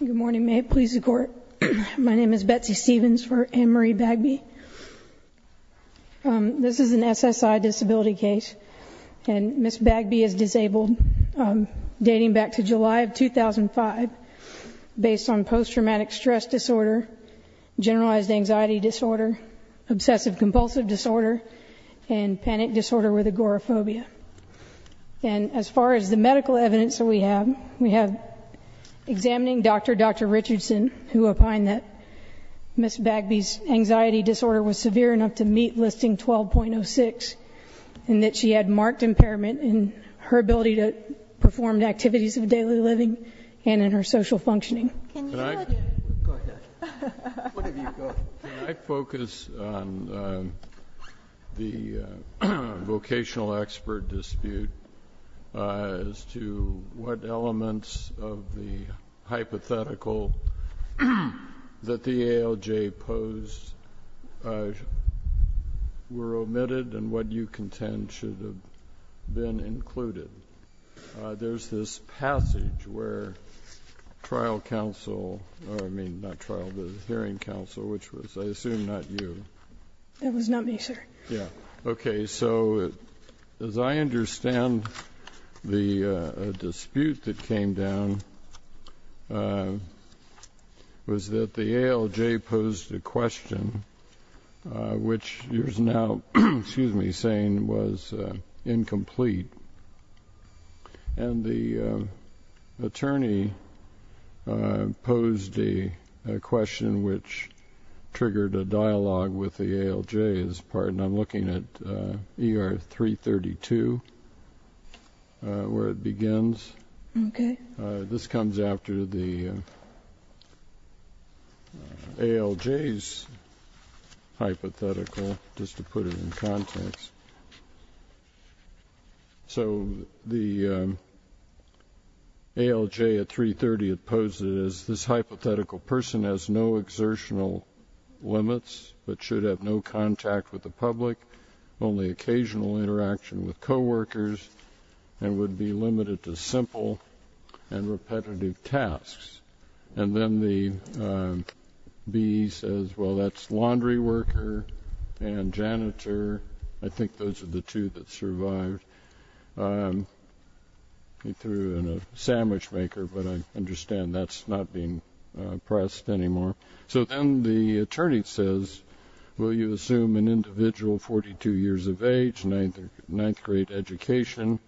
Good morning. May it please the Court, my name is Betsy Stevens for Anne-Marie Bagby. This is an SSI disability case and Ms. Bagby is disabled dating back to July of 2005 based on post-traumatic stress disorder, generalized anxiety disorder, obsessive-compulsive disorder and panic disorder with agoraphobia. And as far as the medical evidence that we have, we have examining Dr. Dr. Richardson who opined that Ms. Bagby's anxiety disorder was severe enough to meet listing 12.06 and that she had marked impairment in her ability to perform activities of daily living and in her social functioning. Can I focus on the vocational expert dispute as to what elements of the hypothetical that this passage where trial counsel, I mean, not trial, but hearing counsel, which was, I assume, not you. That was not me, sir. Yeah. Okay. So as I understand the dispute that came down was that the ALJ posed a question which you're now, excuse me, saying was incomplete. And the attorney posed a question which triggered a dialogue with the ALJ's part, and I'm looking at ER-332 where it begins. Okay. This comes after the ALJ's hypothetical, just to put it in context. So the ALJ at 330 opposes this hypothetical person has no exertional limits but should have no contact with the public, only occasional interaction with co-workers, and would be limited to simple and repetitive tasks. And then the BE says, well, that's laundry worker and janitor. I think those are the two that survived. He threw in a sandwich maker, but I understand that's not being pressed anymore. So then the attorney says, well, you assume an individual 42 years of age, ninth grade education,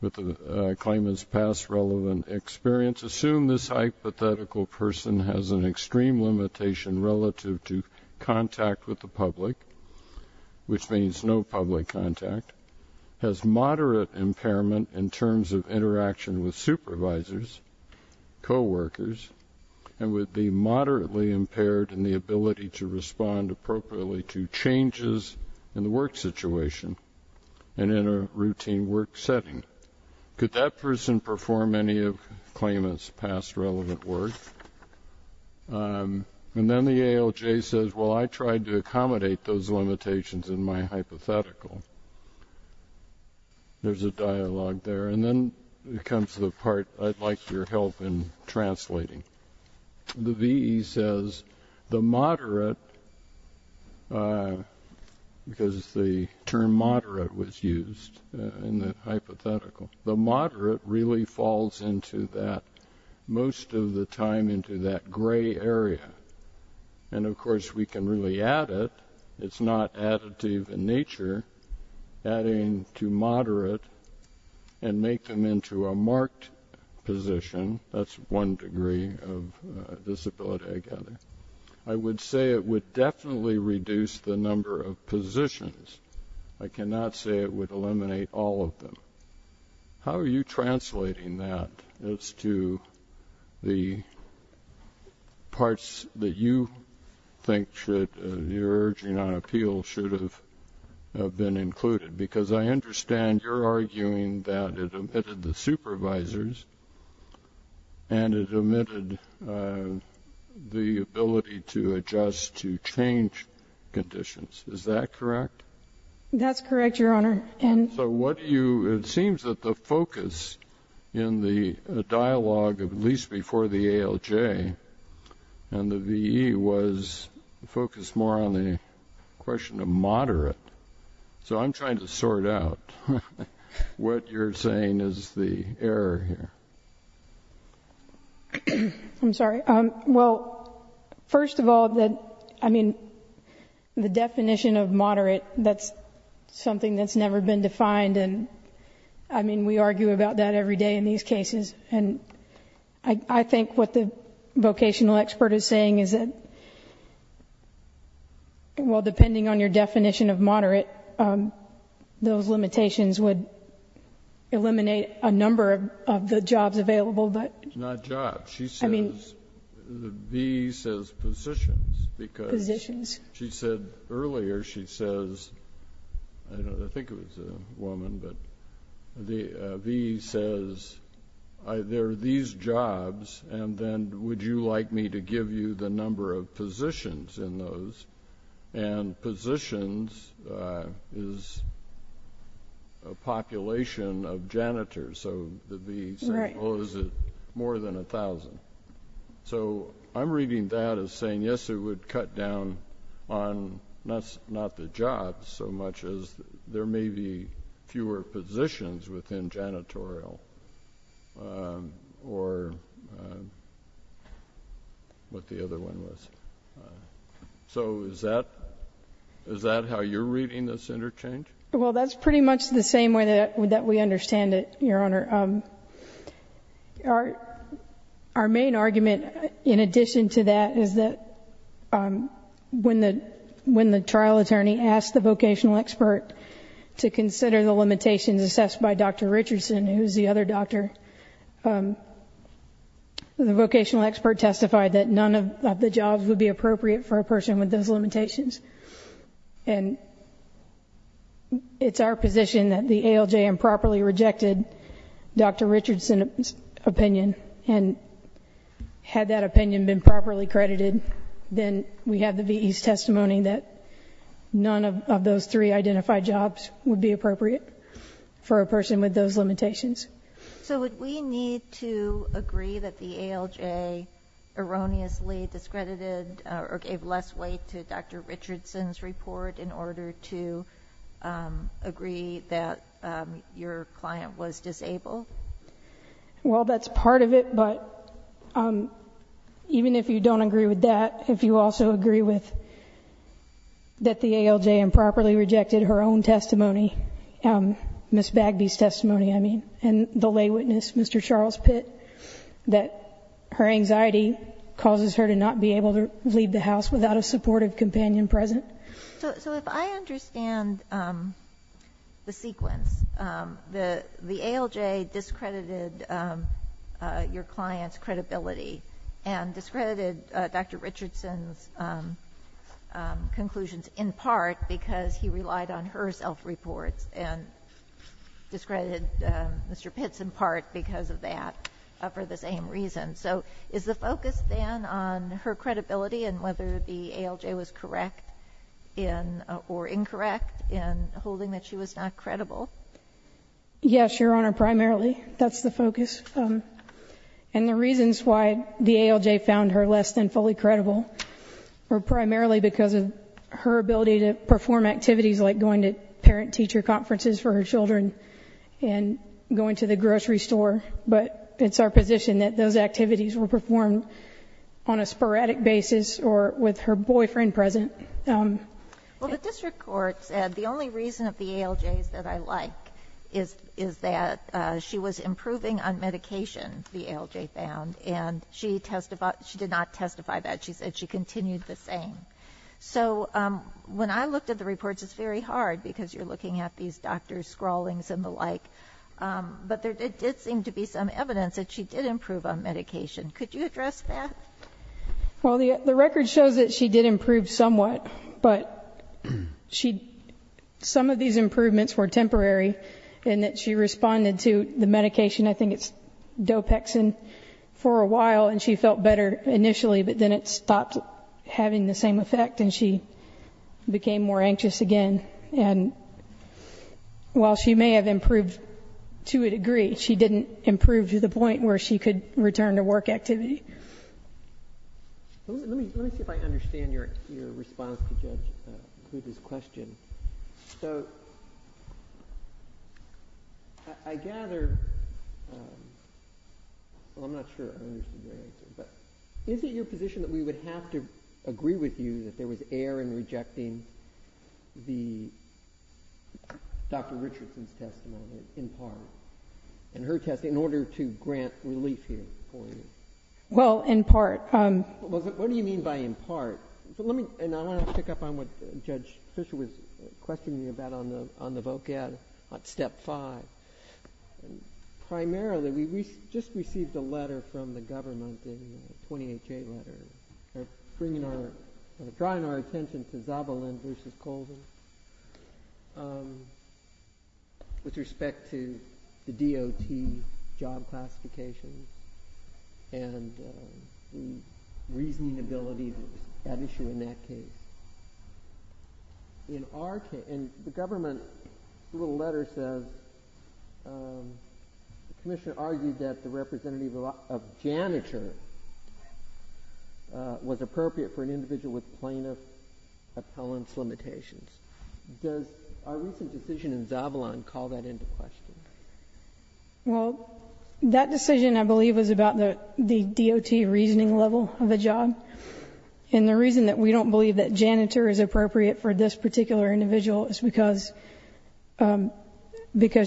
with a claimant's past relevant experience, assume this hypothetical person has an extreme limitation relative to contact with the public, which means no public contact, has moderate impairment in terms of and the ability to respond appropriately to changes in the work situation and in a routine work setting. Could that person perform any of the claimant's past relevant work? And then the ALJ says, well, I tried to accommodate those limitations in my hypothetical. There's a dialogue there, and then it comes to the part I'd like your help in translating. The BE says, the moderate, because the term moderate was used in the hypothetical, the moderate really falls into that, most of the time, into that gray area. And of course, we can really add it. It's not additive in nature, adding to moderate, and make them into a marked position. That's one degree of disability, I gather. I would say it would definitely reduce the number of positions. I cannot say it would eliminate all of them. How are you translating that as to the parts that you think should, you're urging on appeal, should have been included? Because I understand you're arguing that it omitted the supervisors and it omitted the ability to adjust to change conditions. Is that correct? That's correct, Your Honor. So what you, it seems that the focus in the dialogue, at least before the ALJ and the BE, was focused more on the question of moderate. So I'm trying to sort out what you're saying is the error here. I'm sorry. Well, first of all, I mean, the definition of moderate, that's something that's never been defined. And I mean, we argue about that every day in these cases, and I think what the vocational expert is saying is that, well, depending on your definition of moderate, those limitations would eliminate a number of the jobs available. Not jobs. She says, the BE says positions, because she said earlier, she says, I don't know, I think it was a woman, but the BE says, there are these jobs, and then would you like me to give you the number of positions in those? And positions is a population of janitors. So the BE says, well, is it more than a thousand? So I'm reading that as saying, yes, it would cut down on, not the jobs, so much as there may be fewer positions within janitorial, or what the other one was. So is that how you're reading this interchange? Well, that's pretty much the same way that we understand it, Your Honor. Our main argument, in addition to that, is that when the trial attorney asked the vocational expert to consider the limitations assessed by Dr. Richardson, who's the other doctor, the vocational expert testified that none of the jobs would be appropriate for a person with those limitations. And it's our position that the ALJ improperly rejected Dr. Richardson's opinion, and had that opinion been properly credited, then we have the BE's testimony that none of those three identified jobs would be appropriate for a person with those limitations. So would we need to agree that the ALJ erroneously discredited or gave less weight to Dr. Richardson's report in order to agree that your client was disabled? Well, that's part of it, but even if you don't agree with that, if you also agree with that the ALJ improperly rejected her own testimony, Ms. Bagby's testimony, I mean, and the lay witness, Mr. Charles Pitt, that her anxiety causes her to not be able to leave the house without a supportive companion present. So if I understand the sequence, the ALJ discredited your client's credibility and discredited Dr. Richardson's conclusions in part because he relied on her self-report. And discredited Mr. Pitt's in part because of that, for the same reason. So is the focus then on her credibility and whether the ALJ was correct or incorrect in holding that she was not credible? Yes, Your Honor, primarily that's the focus. And the reasons why the ALJ found her less than fully credible were primarily because of her ability to perform activities like going to parent-teacher conferences for her children and going to the grocery store, but it's our position that those activities were performed on a sporadic basis or with her boyfriend present. Well, the district court said the only reason of the ALJs that I like is that she was improving on medication, the ALJ found, and she did not testify that. She said she continued the same. So when I looked at the reports, it's very hard, because you're looking at these doctor's scrawlings and the like. But there did seem to be some evidence that she did improve on medication. Could you address that? Well, the record shows that she did improve somewhat, but some of these improvements were temporary in that she responded to the medication. I think it's dopexin for a while, and she felt better initially, but then it stopped having the same effect and she became more anxious again. And while she may have improved to a degree, she didn't improve to the point where she could return to work activity. Let me see if I understand your response to Judge Kluge's question. So I gather, well, I'm not sure I understood your answer, but is it your position that we would have to agree with you that there was air in rejecting Dr. Richardson's testimony in part, and her testimony in order to grant relief here for you? Well, in part. What do you mean by in part? I want to pick up on what Judge Fischer was questioning about on the vocab, on step five. Primarily, we just received a letter from the government, a 28-J letter, drawing our attention to Zabelin v. Colvin with respect to the DOT job classifications and the reasoning ability at issue in that case. In our case, and the government, the little letter says, the commissioner argued that the representative of janitor was appropriate for an individual with plaintiff appellant's limitations. Does our recent decision in Zabelin call that into question? Well, that decision, I believe, was about the DOT reasoning level of the job. And the reason that we don't believe that janitor is appropriate for this particular individual is because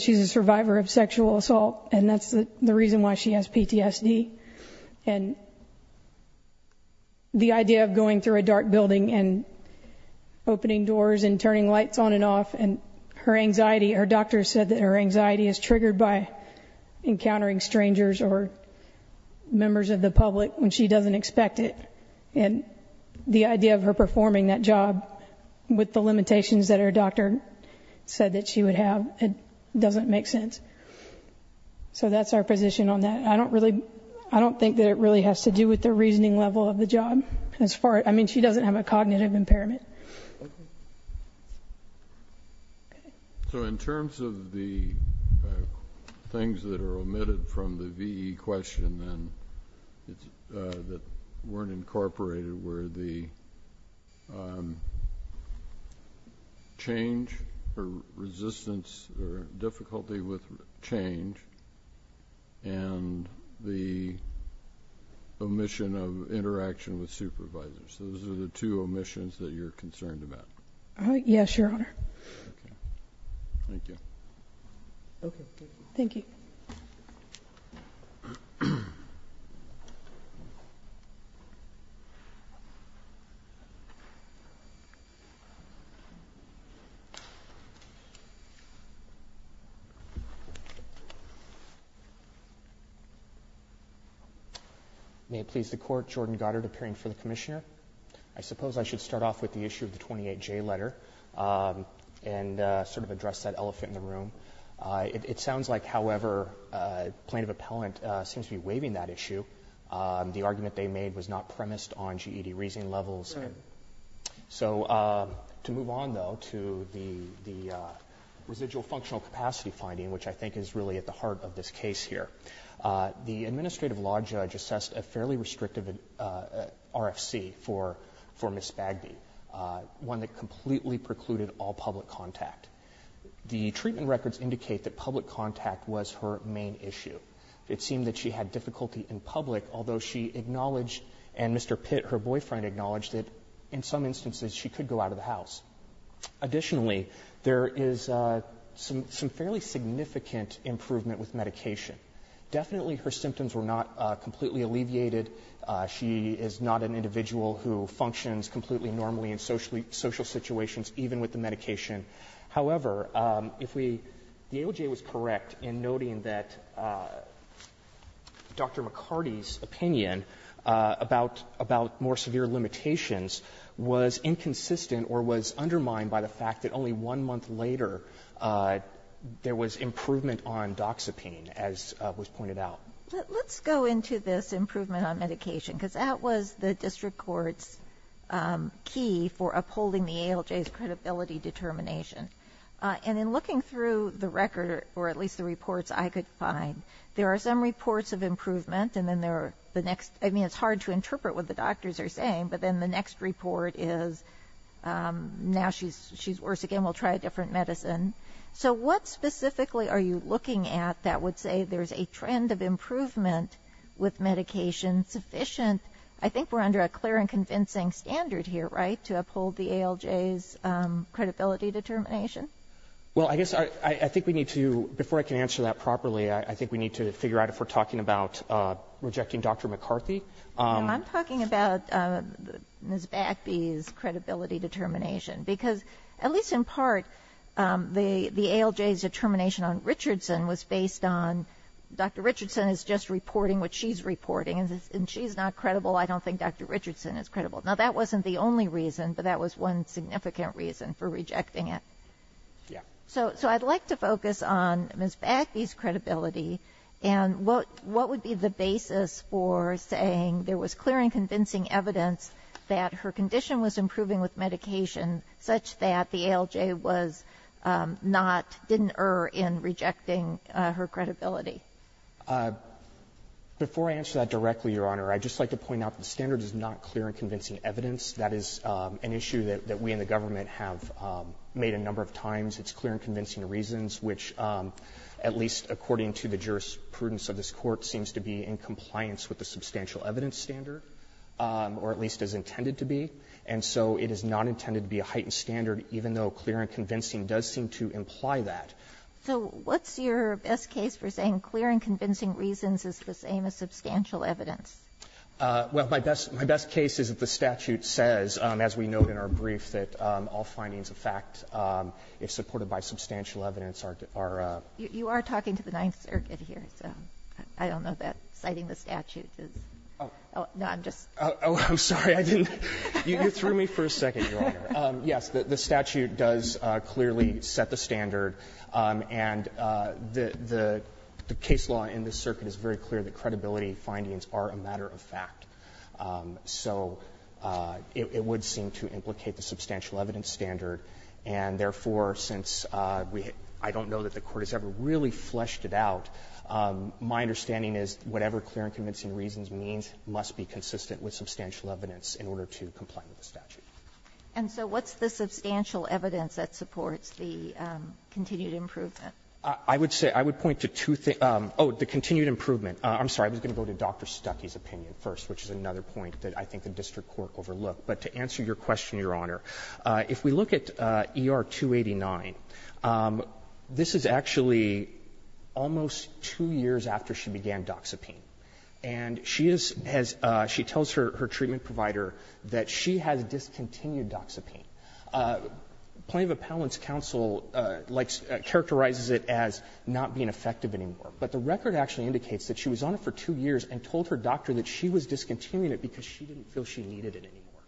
she's a survivor of sexual assault, and that's the reason why she has PTSD. And the idea of going through a dark building and opening doors and turning lights on and off, and her anxiety, her doctor said that her anxiety is triggered by encountering strangers or members of the public when she doesn't expect it. And the idea of her performing that job with the limitations that her doctor said that she would have, it doesn't make sense. So that's our position on that. I don't think that it really has to do with the reasoning level of the job. As far as, I mean, she doesn't have a cognitive impairment. So in terms of the things that are omitted from the VE question that weren't incorporated were the change or resistance or difficulty with change and the omission of interaction with supervisors. Those are the two omissions that you're concerned about. Yes, Your Honor. Thank you. Okay, thank you. Thank you. May it please the Court, Jordan Goddard appearing for the Commissioner. I suppose I should start off with the issue of the 28J letter and sort of address that elephant in the room. It sounds like, however, plaintiff appellant seems to be waiving that issue. The argument they made was not premised on GED reasoning levels. So to move on, though, to the residual functional capacity finding, which I think is really at the heart of this case here. The administrative law judge assessed a fairly restrictive RFC for Ms. Bagby, one that completely precluded all public contact. The treatment records indicate that public contact was her main issue. It seemed that she had difficulty in public, although she acknowledged and Mr. Pitt, her boyfriend, acknowledged that in some instances she could go out of the house. Additionally, there is some fairly significant improvement with medication. Definitely her symptoms were not completely alleviated. She is not an individual who functions completely normally in social situations, even with the medication. However, the AOJ was correct in noting that Dr. McCarty's opinion about more severe limitations was inconsistent or was undermined by the fact that only one month later there was improvement on doxepine, as was pointed out. Let's go into this improvement on medication, because that was the district court's key for upholding the AOJ's credibility determination. And in looking through the record, or at least the reports I could find, there are some reports of improvement, and then there are the next. I mean, it's hard to interpret what the doctors are saying, but then the next report is now she's worse again, we'll try a different medicine. So what specifically are you looking at that would say there's a trend of improvement with medication sufficient? I think we're under a clear and convincing standard here, right, to uphold the AOJ's credibility determination? Well, I guess I think we need to, before I can answer that properly, I think we need to figure out if we're talking about rejecting Dr. McCarthy. I'm talking about Ms. Backby's credibility determination, because at least in part the AOJ's determination on Richardson was based on Dr. Richardson is just reporting what she's reporting, and she's not credible. I don't think Dr. Richardson is credible. Now, that wasn't the only reason, but that was one significant reason for rejecting it. So I'd like to focus on Ms. Backby's credibility, and what would be the basis for saying there was clear and convincing evidence that her condition was improving with medication, such that the AOJ didn't err in rejecting her credibility? Before I answer that directly, Your Honor, I'd just like to point out that the standard is not clear and convincing evidence. That is an issue that we in the government have made a number of times. It's clear and convincing reasons, which at least according to the jurisprudence of this Court seems to be in compliance with the substantial evidence standard, or at least is intended to be. And so it is not intended to be a heightened standard, even though clear and convincing does seem to imply that. So what's your best case for saying clear and convincing reasons is the same as substantial evidence? Well, my best case is that the statute says, as we note in our brief, that all findings of fact, if supported by substantial evidence, are to our own. You are talking to the Ninth Circuit here, so I don't know that citing the statute is not just. Oh, I'm sorry. I didn't. You threw me for a second, Your Honor. Yes, the statute does clearly set the standard, and the case law in this circuit is very clear that credibility findings are a matter of fact. So it would seem to implicate the substantial evidence standard, and therefore, since I don't know that the Court has ever really fleshed it out, my understanding is whatever clear and convincing reasons means must be consistent with substantial evidence in order to comply with the statute. And so what's the substantial evidence that supports the continued improvement? I would say, I would point to two things. Oh, the continued improvement. I'm sorry. I was going to go to Dr. Stuckey's opinion first, which is another point that I think the district court overlooked. But to answer your question, Your Honor, if we look at ER-289, this is actually almost two years after she began doxepine, and she is as she tells her treatment provider that she has discontinued doxepine. Plain of Appellant's counsel likes to characterize it as not being effective anymore, but the record actually indicates that she was on it for two years and told her doctor that she was discontinuing it because she didn't feel she needed it anymore.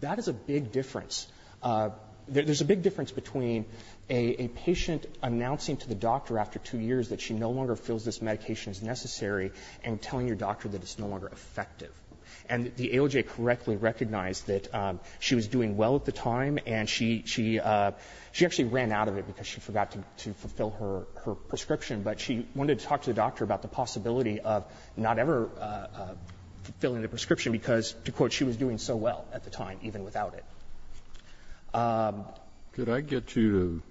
That is a big difference. There's a big difference between a patient announcing to the doctor after two years that she no longer feels this medication is necessary and telling your doctor that it's no longer effective. And the AOJ correctly recognized that she was doing well at the time, and she actually ran out of it because she forgot to fulfill her prescription. But she wanted to talk to the doctor about the possibility of not ever fulfilling the prescription because, to quote, she was doing so well at the time, even without it. Kennedy. Could I get you to,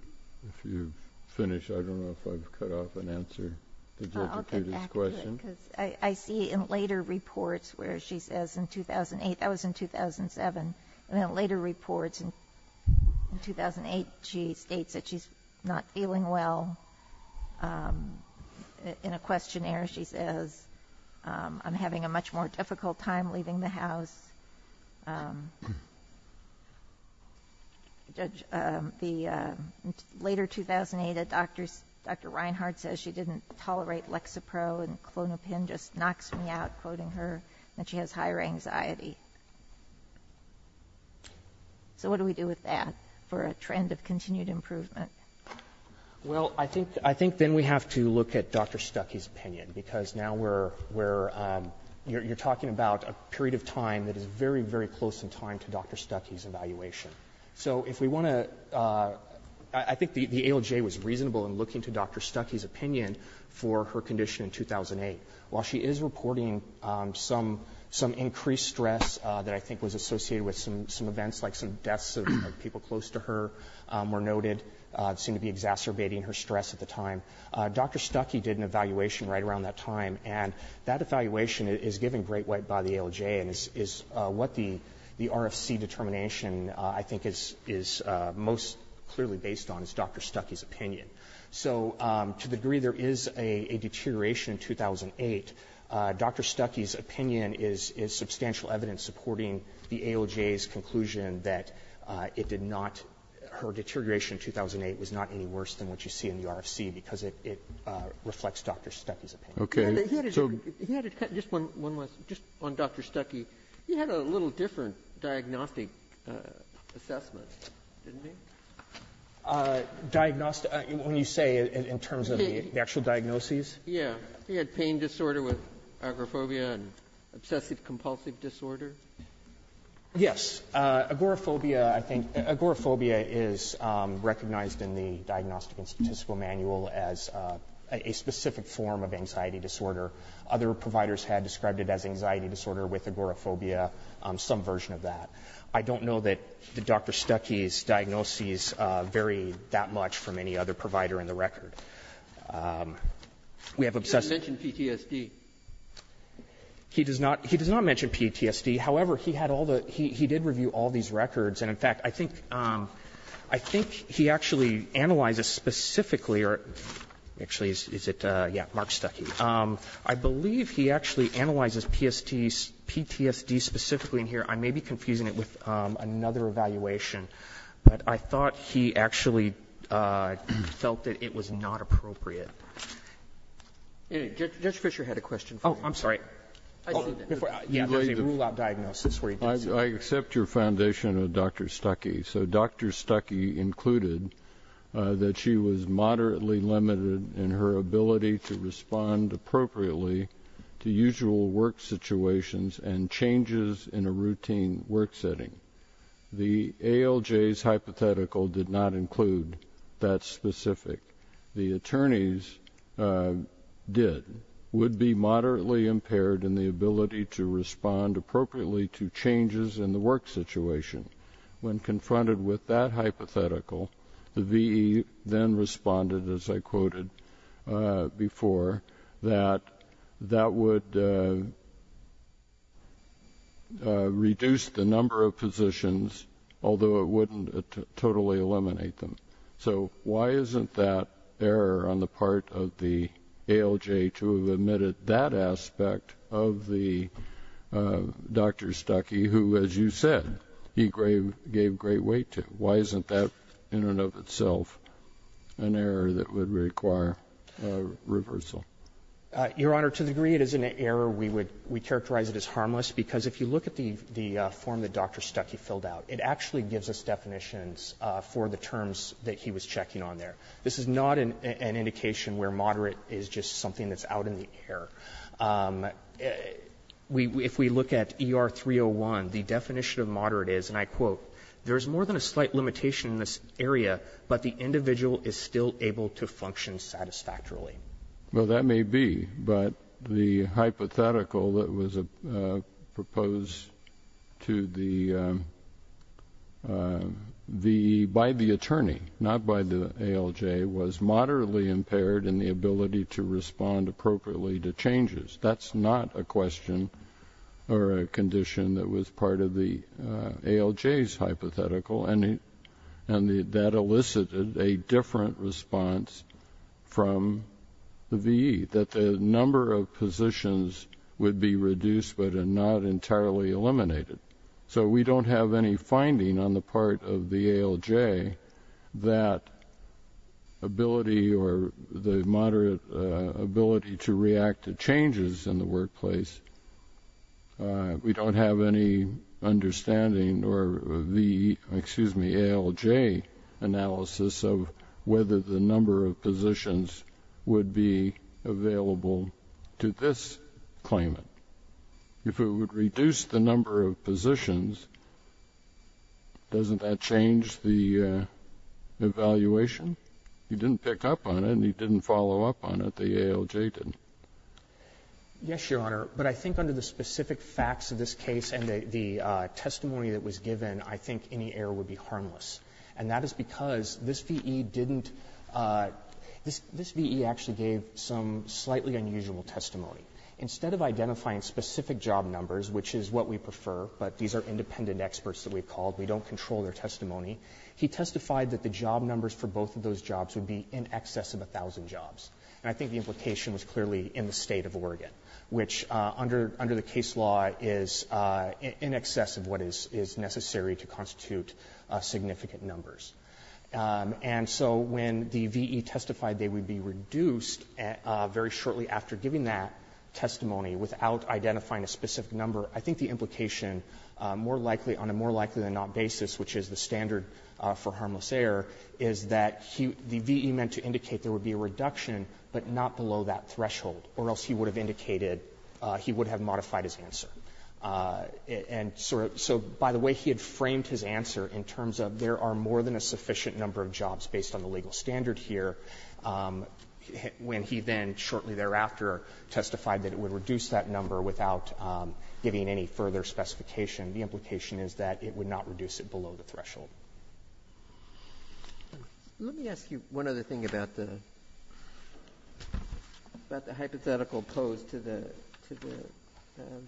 if you finish, I don't know if I've cut off an answer to Judith's question. I see in later reports where she says in 2008, that was in 2007, and in later reports in 2008, she states that she's not feeling well. In a questionnaire, she says, I'm having a much more difficult time leaving the house. In later 2008, Dr. Reinhardt says she didn't tolerate Lexapro, and Clonopin just knocks me out, quoting her, that she has higher anxiety. So what do we do with that for a trend of continued improvement? Well, I think then we have to look at Dr. Stuckey's opinion, because now you're talking about a period of time that is very, very close in time to Dr. Stuckey's evaluation. So if we want to, I think the ALJ was reasonable in looking to Dr. Stuckey's opinion for her condition in 2008. While she is reporting some increased stress that I think was associated with some events, like some deaths of people close to her were noted, seemed to be exacerbating her stress at the time, Dr. Stuckey did an evaluation right around that time. And that evaluation is given great weight by the ALJ, and is what the RFC determination, I think, is most clearly based on is Dr. Stuckey's opinion. So to the degree there is a deterioration in 2008, Dr. Stuckey's opinion is substantial evidence supporting the ALJ's conclusion that it did not, her deterioration in 2008 was not any worse than what you see in the RFC, because it reflects Dr. Stuckey's opinion. OK, so just one last, just on Dr. Stuckey, he had a little different diagnostic assessment, didn't he? Diagnostic, when you say in terms of the actual diagnoses? Yeah, he had pain disorder with agoraphobia and obsessive compulsive disorder. Yes, agoraphobia, I think agoraphobia is recognized in the Diagnostic and Statistical Manual as a specific form of anxiety disorder. Other providers had described it as anxiety disorder with agoraphobia, some version of that. I don't know that Dr. Stuckey's diagnoses vary that much from any other provider in the record. We have obsessive. You mentioned PTSD. He does not, he does not mention PTSD. However, he had all the, he did review all these records. And, in fact, I think, I think he actually analyzes specifically or, actually, is it, yeah, Mark Stuckey. I believe he actually analyzes PTSD specifically in here. I may be confusing it with another evaluation, but I thought he actually felt that it was not appropriate. Judge Fischer had a question for you. Oh, I'm sorry. Before, yeah, there's a rule-out diagnosis where he doesn't. I accept your foundation of Dr. Stuckey. So Dr. Stuckey included that she was moderately limited in her ability to respond appropriately to usual work situations and changes in a routine work setting. The ALJ's hypothetical did not include that specific. The attorney's did, would be moderately impaired in the ability to respond appropriately to changes in the work situation. When confronted with that hypothetical, the VE then responded, as I quoted before, that that would reduce the number of positions, although it wouldn't totally eliminate them. So why isn't that error on the part of the ALJ to have admitted that aspect of the Dr. Stuckey, who, as you said, he gave great weight to? Why isn't that in and of itself an error that would require reversal? Your Honor, to the degree it is an error, we characterize it as harmless because if you look at the form that Dr. Stuckey filled out, it actually gives us definitions for the terms that he was checking on there. This is not an indication where moderate is just something that's out in the air. If we look at ER 301, the definition of moderate is, and I quote, there's more than a slight limitation in this area, but the individual is still able to function satisfactorily. Well, that may be, but the hypothetical that was proposed to the VE by the attorney, not by the ALJ, was moderately impaired in the ability to respond appropriately to changes. That's not a question or a condition that was part of the ALJ's hypothetical. And that elicited a different response from the VE, that the number of positions would be reduced, but not entirely eliminated. So we don't have any finding on the part of the ALJ that ability or the moderate ability to react to changes in the workplace. We don't have any understanding or the, excuse me, ALJ analysis of whether the number of positions would be available to this claimant. If it would reduce the number of positions, doesn't that change the evaluation? You didn't pick up on it and you didn't follow up on it, the ALJ didn't. Yes, Your Honor. But I think under the specific facts of this case and the testimony that was given, I think any error would be harmless. And that is because this VE didn't, this VE actually gave some slightly unusual testimony. Instead of identifying specific job numbers, which is what we prefer, but these are independent experts that we've called. We don't control their testimony. He testified that the job numbers for both of those jobs would be in excess of a thousand jobs. And I think the implication was clearly in the state of Oregon, which under the case law is in excess of what is necessary to constitute significant numbers. And so when the VE testified they would be reduced very shortly after giving that testimony without identifying a specific number, I think the implication on a more for harmless error is that the VE meant to indicate there would be a reduction, but not below that threshold or else he would have indicated he would have modified his answer. And so by the way, he had framed his answer in terms of there are more than a sufficient number of jobs based on the legal standard here. When he then shortly thereafter testified that it would reduce that number without giving any further specification, the implication is that it would not reduce it below the threshold. Let me ask you one other thing about the hypothetical pose to the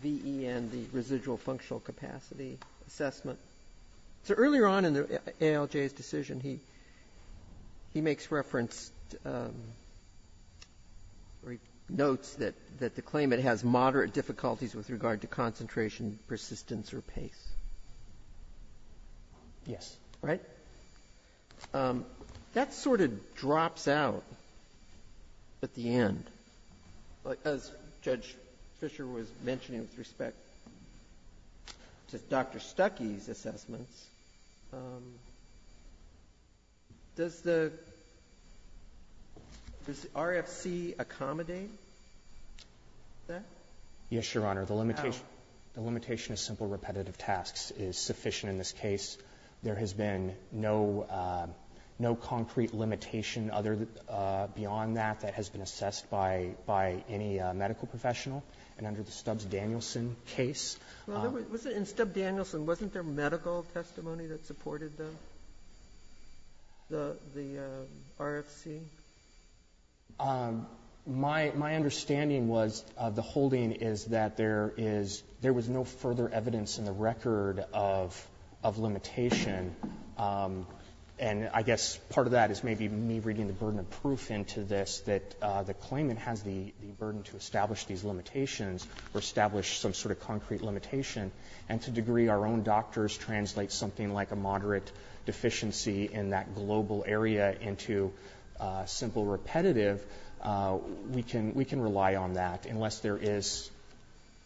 VEN, the residual functional capacity assessment. So earlier on in the ALJ's decision, he makes reference, or he notes that the claim it has moderate difficulties with regard to concentration, persistence or pace. Yes. Right. Um, that sort of drops out at the end, like as Judge Fisher was mentioning with respect to Dr. Stuckey's assessments, um, does the, does the RFC accommodate that? Yes, Your Honor. The limitation, the limitation is simple repetitive task. It is sufficient in this case. There has been no, uh, no concrete limitation other, uh, beyond that, that has been assessed by, by any, uh, medical professional and under the Stubbs-Danielson case. Well, there was, in Stubbs-Danielson, wasn't there medical testimony that supported the, the, the, uh, RFC? Um, my, my understanding was, uh, the holding is that there is, there was no further evidence in the record of, of limitation. Um, and I guess part of that is maybe me reading the burden of proof into this, that, uh, the claimant has the, the burden to establish these limitations or establish some sort of concrete limitation and to degree our own doctors translate something like a moderate deficiency in that global area into, uh, simple repetitive, uh, we can, we can rely on that unless there is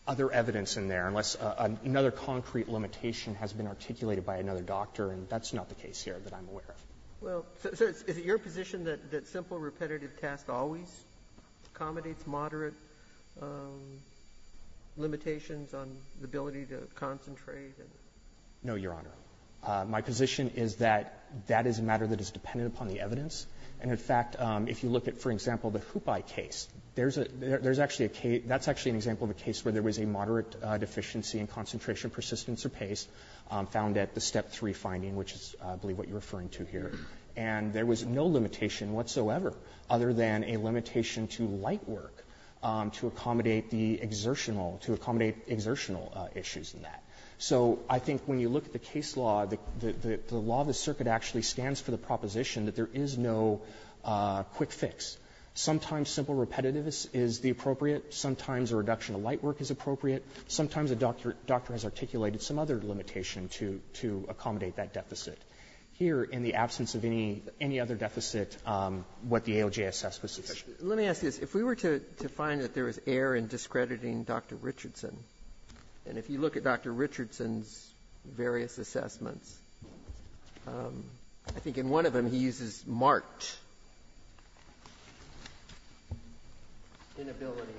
other evidence in there, unless another concrete limitation has been articulated by another doctor and that's not the case here that I'm aware of. Well, so, so is it your position that, that simple repetitive task always accommodates moderate, um, limitations on the ability to concentrate and? No, Your Honor. Uh, my position is that that is a matter that is dependent upon the evidence. And in fact, um, if you look at, for example, the Hoopi case, there's a, there's actually a case, that's actually an example of a case where there was a moderate, uh, deficiency in concentration, persistence or pace, um, found at the step three finding, which is, uh, I believe what you're referring to here. And there was no limitation whatsoever other than a limitation to light work, um, to accommodate the exertional, to accommodate exertional, uh, issues in that. So I think when you look at the case law, the, the, the law of the circuit actually stands for the proposition that there is no, uh, quick fix. Sometimes simple repetitive is, is the appropriate. Sometimes a reduction of light work is appropriate. Sometimes a doctor, doctor has articulated some other limitation to, to accommodate that deficit. Here in the absence of any, any other deficit, um, what the AOJ assessed was sufficient. Let me ask you this. If we were to, to find that there was error in discrediting Dr. Richardson, and if you look at Dr. Richardson's various assessments, um, I think in one of them he uses marked. Um, inability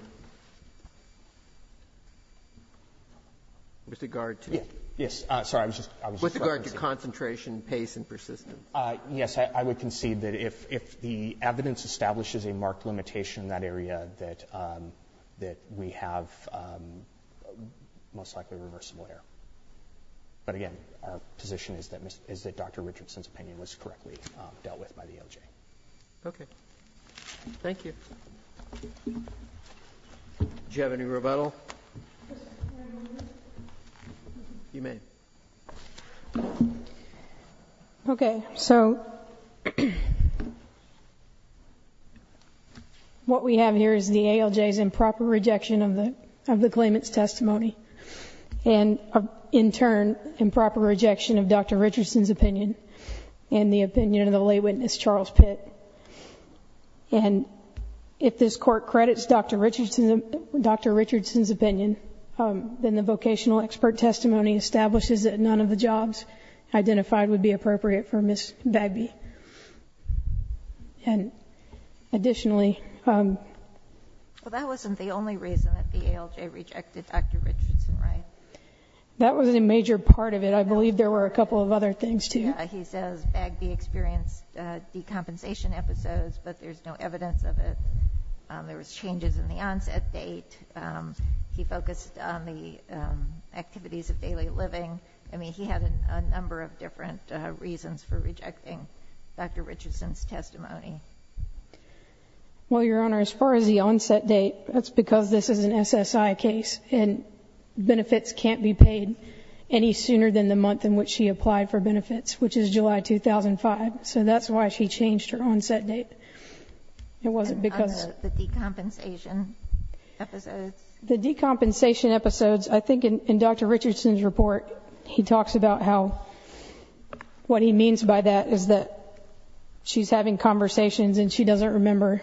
with regard to, with regard to concentration, pace and persistence. Uh, yes, I, I would concede that if, if the evidence establishes a marked limitation in that area that, um, that we have, um, most likely reversible error. But again, our position is that Dr. Richardson's opinion was correctly dealt with by the AOJ. Okay. Thank you. Do you have any rebuttal? You may. Okay. So what we have here is the AOJ's improper rejection of the, of the claimant's testimony and in turn, improper rejection of Dr. Richardson's opinion and the opinion of the lay witness, Charles Pitt. And if this court credits Dr. Richardson, Dr. Richardson's opinion, um, then the vocational expert testimony establishes that none of the jobs identified would be appropriate for Ms. Bagby. And additionally, um... Well, that wasn't the only reason that the AOJ rejected Dr. Richardson, right? That was a major part of it. I believe there were a couple of other things too. Yeah. He says Bagby experienced decompensation episodes, but there's no evidence of it. Um, there was changes in the onset date. Um, he focused on the, um, activities of daily living. I mean, he had a number of different reasons for rejecting Dr. Richardson's testimony. Well, Your Honor, as far as the onset date, that's because this is an SSI case and benefits can't be paid any sooner than the month in which he applied for SSI, which is July, 2005. So that's why she changed her onset date. It wasn't because... The decompensation episodes. The decompensation episodes. I think in Dr. Richardson's report, he talks about how, what he means by that is that she's having conversations and she doesn't remember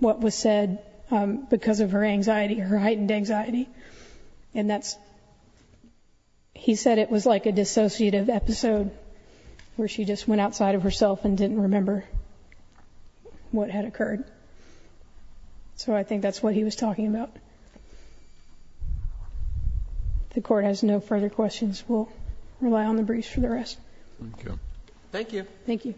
what was said, um, because of her anxiety, her heightened anxiety. And that's... where she just went outside of herself and didn't remember what had occurred. So I think that's what he was talking about. The court has no further questions. We'll rely on the briefs for the rest. Thank you. Thank you.